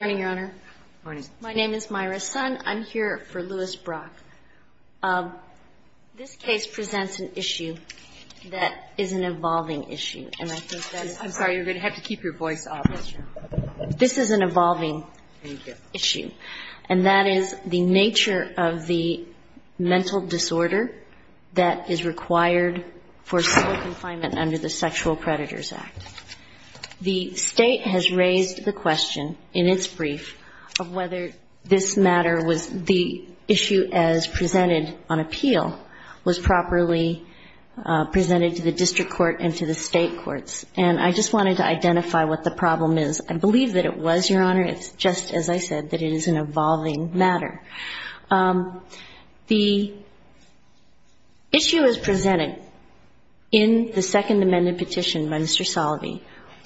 My name is Myra Sun. I'm here for Louis Brock. This case presents an issue that is an evolving issue, and I think that's I'm sorry, you're going to have to keep your voice up. This is an evolving issue, and that is the nature of the mental disorder that is required for civil confinement under the Sexual Predators Act. The State has raised the question in its brief of whether this matter was the issue as presented on appeal was properly presented to the District Court and to the State courts, and I just wanted to identify what the problem is. I believe that it was, Your Honor. It's just, as I said, that it is an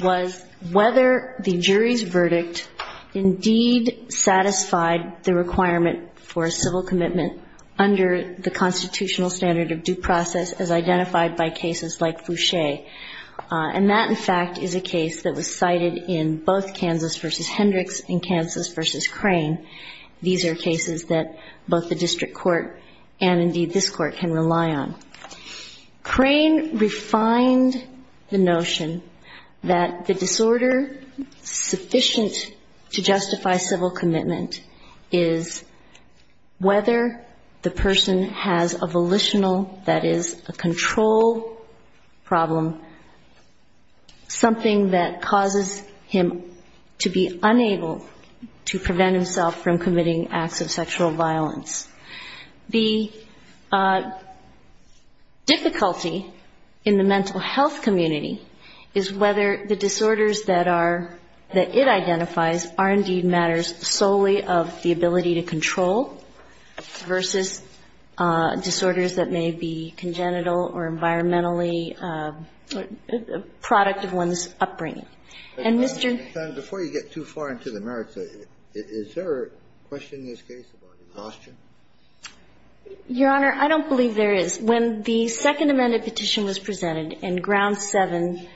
was whether the jury's verdict indeed satisfied the requirement for a civil commitment under the constitutional standard of due process as identified by cases like Fouché. And that, in fact, is a case that was cited in both Kansas v. Hendricks and Kansas v. Crane. These are cases that both the District Court and indeed this Court can rely on. Crane refined the notion that the disorder sufficient to justify civil commitment is whether the person has a The difficulty in the mental health community is whether the disorders that are, that it identifies are indeed matters solely of the ability to control versus disorders that may be congenital or environmentally product of one's upbringing. And Mr. Before you get too far into the merits, is there a question in this case about exhaustion? Your Honor, I don't believe there is. When the Second Amended Petition was presented and Ground 7,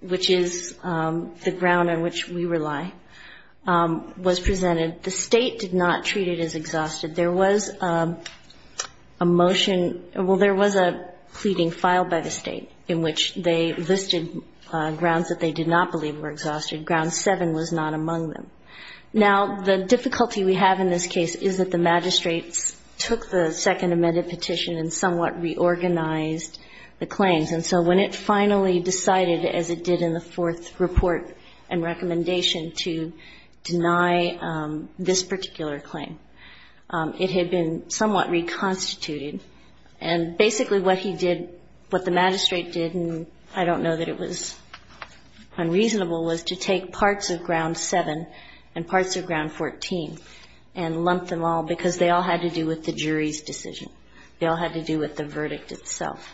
which is the ground on which we rely, was presented, the State did not treat it as exhausted. There was a motion, well, there was a pleading filed by the State in which they listed grounds that they did not believe were exhausted. Ground 7 was not among them. Now, the difficulty we have in this case is that the magistrates took the Second Amended Petition and somewhat reorganized the claims. And so when it finally decided, as it did in the fourth report and recommendation, to deny this particular claim, it had been somewhat reconstituted. And basically what he did, what the magistrate did, and I don't know that it was unreasonable, was to take parts of Ground 7 and parts of Ground 14 and lump them all because they all had to do with the jury's decision. They all had to do with the verdict itself.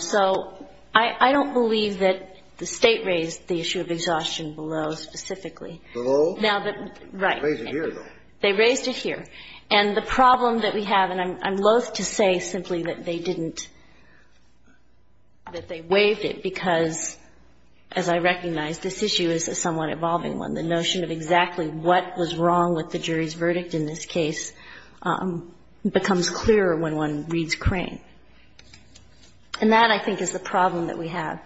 So I don't believe that the State raised the issue of exhaustion below specifically. Below? Right. Raised it here, though. They raised it here. And the problem that we have, and I'm loath to say simply that they didn't, that they waived it because, as I recognize, this issue is a somewhat evolving one. The notion of exactly what was wrong with the jury's verdict in this case becomes clearer when one reads Crane. And that, I think, is the problem that we have.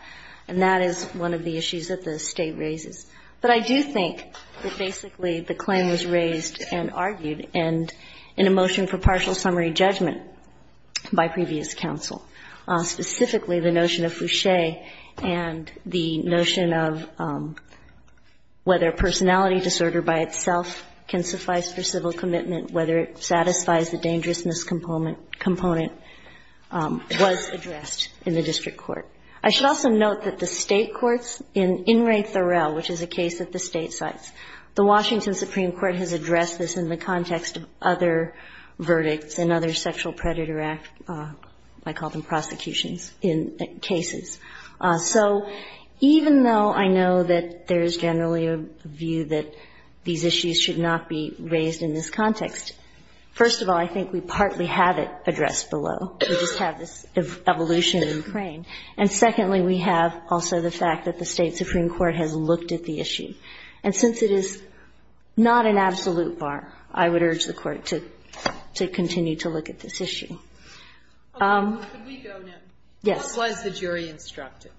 And that is one of the issues that the State raises. But I do think that basically the claim was raised and argued, and in a motion for partial summary judgment by previous counsel, specifically the notion of Fouché and the notion of whether personality disorder by itself can suffice for civil commitment, whether it satisfies the dangerousness component, was addressed in the district court. I should also note that the State courts in In re Thoreau, which is a case that the State cites, the Washington Supreme Court has addressed this in the context of other verdicts and other sexual predator act, I call them prosecutions, in cases. So even though I know that there is generally a view that these issues should not be raised in this context, first of all, I think we partly have it in Crane. And secondly, we have also the fact that the State supreme court has looked at the issue. And since it is not an absolute bar, I would urge the Court to continue to look at this issue. Yes. What was the jury instructed?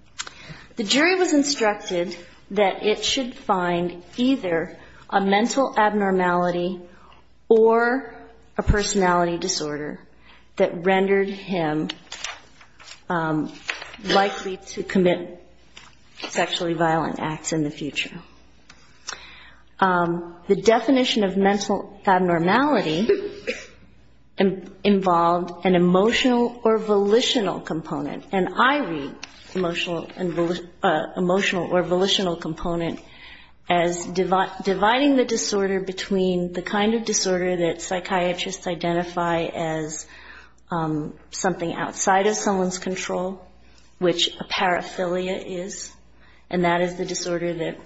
The jury was instructed that it should find either a mental abnormality or a personality disorder that rendered him likely to commit sexually violent acts in the future. The definition of mental abnormality involved an emotional or volitional component, and I read emotional or volitional component as dividing the disorder between the kind of disorder that psychiatrists identify as something outside of someone's control, which a paraphilia is. And that is the disorder that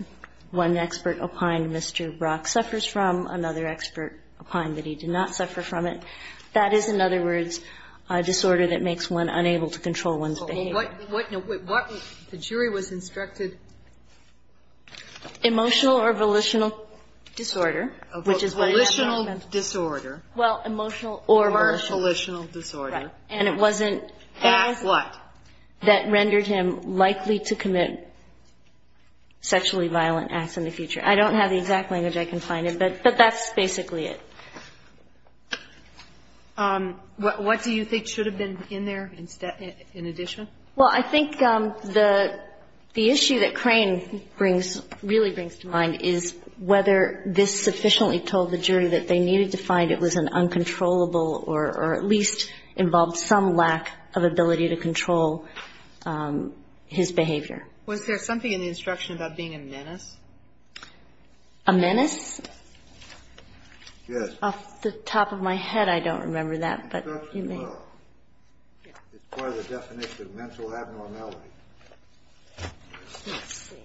one expert opined Mr. Brock suffers from, another expert opined that he did not suffer from it. That is, in other words, a disorder that makes one unable to control one's behavior. So what the jury was instructed? Emotional or volitional disorder. Volitional disorder. Well, emotional or volitional. Or volitional disorder. Right. And it wasn't acts that rendered him likely to commit sexually violent acts in the future. I don't have the exact language I can find, but that's basically it. What do you think should have been in there in addition? Well, I think the issue that Crane brings, really brings to mind is whether this sufficiently told the jury that they needed to find it was an uncontrollable or at least involved some lack of ability to control his behavior. Was there something in the instruction about being a menace? A menace? Yes. Off the top of my head, I don't remember that, but you may. It's part of the definition of mental abnormality. Let's see.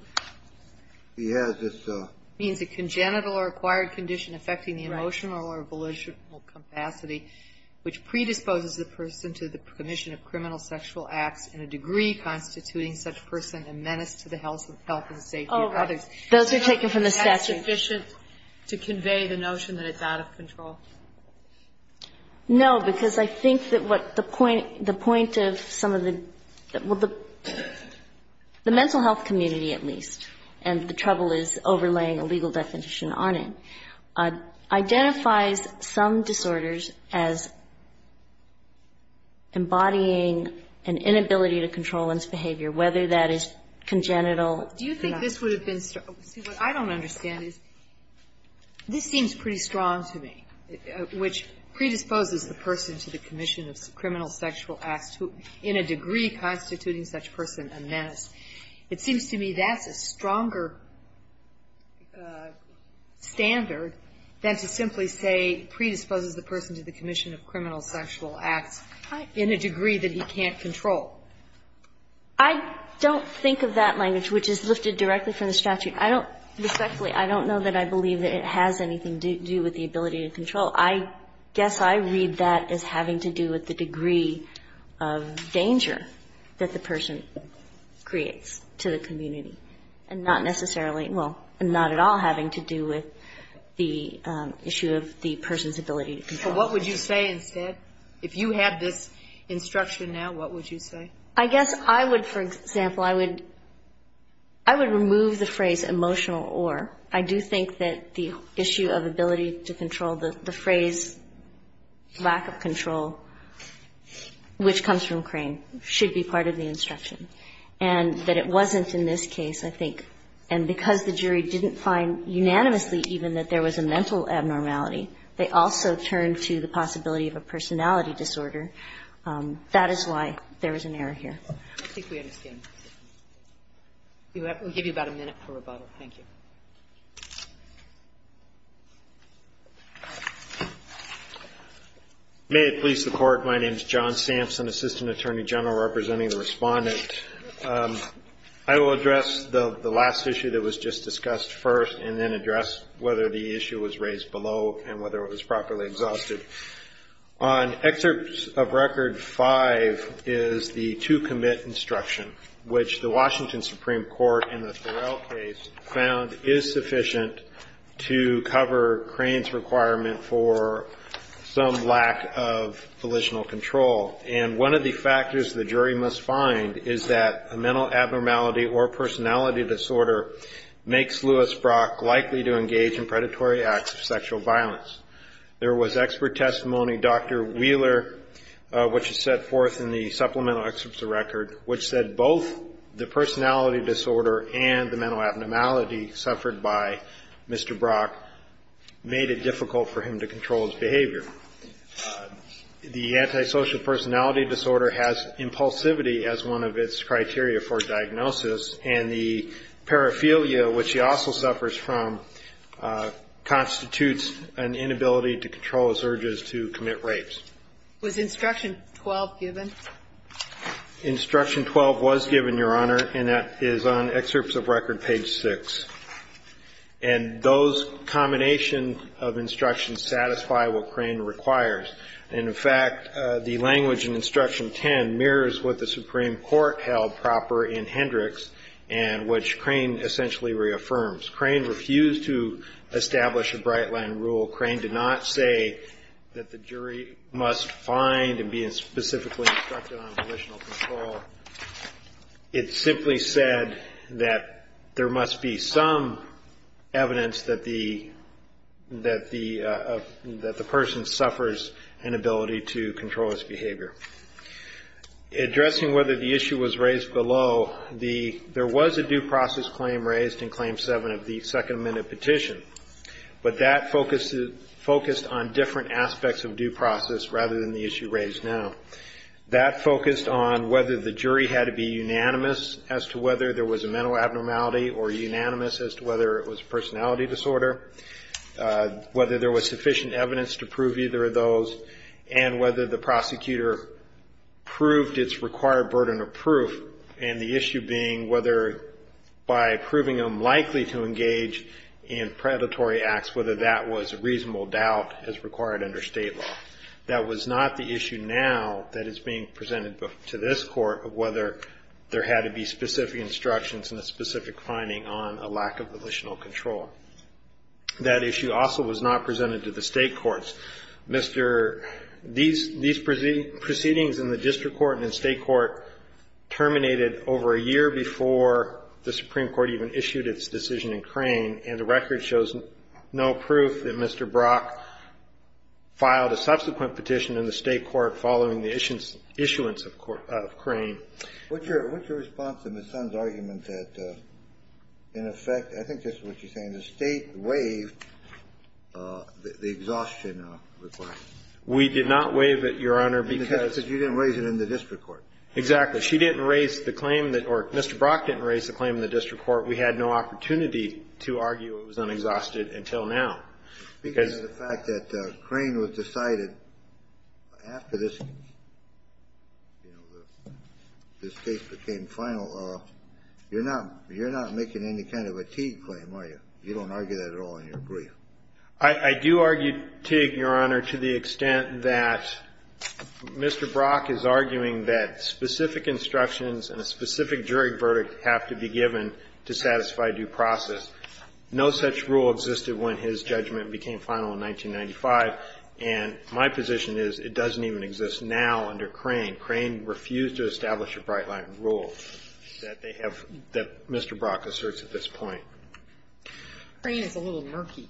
He has this. It means a congenital or acquired condition affecting the emotional or volitional capacity which predisposes the person to the commission of criminal sexual acts in a degree constituting such person a menace to the health and safety of others. Oh, right. Those are taken from the statute. Is that sufficient to convey the notion that it's out of control? No, because I think that what the point of some of the, well, the mental health community at least, and the trouble is overlaying a legal definition on it, identifies some disorders as embodying an inability to control one's behavior, whether that is congenital. Do you think this would have been, see, what I don't understand is this seems pretty strong to me. It seems to me that the definition of mental abnormality, which predisposes the person to the commission of criminal sexual acts in a degree constituting such person a menace, it seems to me that's a stronger standard than to simply say predisposes the person to the commission of criminal sexual acts in a degree that he can't control. I don't think of that language, which is lifted directly from the statute. I don't, respectfully, I don't know that I believe that it has anything to do with the ability to control. I guess I read that as having to do with the degree of danger that the person creates to the community, and not necessarily, well, not at all having to do with the issue of the person's ability to control. But what would you say instead? If you had this instruction now, what would you say? I guess I would, for example, I would remove the phrase emotional or. I do think that the issue of ability to control, the phrase lack of control, which comes from Crane, should be part of the instruction. And that it wasn't in this case, I think. And because the jury didn't find unanimously even that there was a mental abnormality, they also turned to the possibility of a personality disorder. That is why there is an error here. I think we understand. We'll give you about a minute for rebuttal. Thank you. May it please the Court. My name is John Sampson, Assistant Attorney General representing the Respondent. I will address the last issue that was just discussed first and then address whether the issue was raised below and whether it was properly exhausted. On excerpt of Record 5 is the to commit instruction, which the Washington Supreme Court in the Thorell case found is sufficient to cover Crane's requirement for some lack of volitional control. And one of the factors the jury must find is that a mental abnormality or personality disorder makes Louis Brock likely to engage in predatory acts of sexual violence. There was expert testimony, Dr. Wheeler, which is set forth in the supplemental excerpts of Record, which said both the personality disorder and the mental abnormality suffered by Mr. Brock made it difficult for him to control his behavior. The antisocial personality disorder has impulsivity as one of its criteria for diagnosis, and the paraphilia, which he also suffers from, constitutes an inability to control his urges to commit rapes. Was instruction 12 given? Instruction 12 was given, Your Honor, and that is on excerpts of Record page 6. And those combinations of instructions satisfy what Crane requires. And, in fact, the language in Instruction 10 mirrors what the Supreme Court held proper in Hendricks and which Crane essentially reaffirms. Crane refused to establish a bright-line rule. Crane did not say that the jury must find and be specifically instructed on volitional control. It simply said that there must be some evidence that the person suffers an inability to control his behavior. Addressing whether the issue was raised below, there was a due process claim raised in Claim 7 of the Second Amendment Petition, but that focused on different aspects of due process rather than the issue raised now. That focused on whether the jury had to be unanimous as to whether there was a mental abnormality or unanimous as to whether it was a personality disorder, whether there was sufficient evidence to prove either of those, and whether the prosecutor proved its required burden of proof, and the issue being whether by proving him likely to engage in predatory acts, whether that was a reasonable doubt as required under state law. That was not the issue now that is being presented to this Court, of whether there had to be specific instructions and a specific finding on a lack of volitional control. That issue also was not presented to the state courts. Mr. — these proceedings in the district court and the state court terminated over a year before the Supreme Court even issued its decision in Crane, and the record shows no proof that Mr. Brock filed a subsequent petition in the state court following the issuance of Crane. What's your response to Ms. Sun's argument that, in effect, I think this is what you're saying, the state waived the exhaustion requirement? We did not waive it, Your Honor, because — Because you didn't raise it in the district court. Exactly. She didn't raise the claim that — or Mr. Brock didn't raise the claim in the district court. We had no opportunity to argue it was unexhausted until now. Because of the fact that Crane was decided after this, you know, this case became final, you're not making any kind of a Teague claim, are you? You don't argue that at all in your brief. I do argue Teague, Your Honor, to the extent that Mr. Brock is arguing that specific instructions and a specific jury verdict have to be given to satisfy due process. No such rule existed when his judgment became final in 1995, and my position is it doesn't even exist now under Crane. Crane refused to establish a bright-line rule that they have — that Mr. Brock asserts at this point. Crane is a little murky.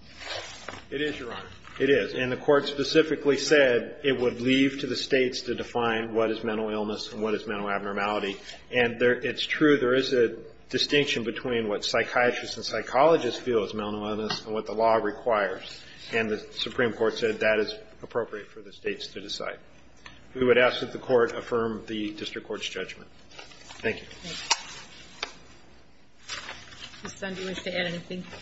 It is, Your Honor. It is. And the Court specifically said it would leave to the States to define what is mental illness and what is mental abnormality. And it's true, there is a distinction between what psychiatrists and psychologists feel is mental illness and what the law requires. And the Supreme Court said that is appropriate for the States to decide. We would ask that the Court affirm the district court's judgment. Thank you. Ms. Sunde, do you wish to add anything? I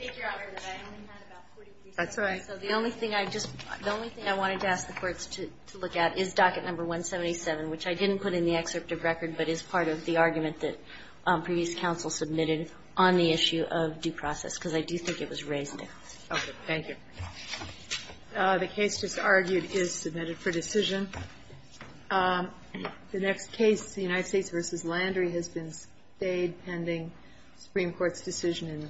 think, Your Honor, that I only had about 40 present. That's all right. So the only thing I just — the only thing I wanted to ask the courts to look at is docket number 177, which I didn't put in the excerpt of record, but is part of the argument that previous counsel submitted on the issue of due process, because I do think it was raised there. Okay. Thank you. The case just argued is submitted for decision. The next case, the United States v. Landry, has been stayed pending Supreme Court decision.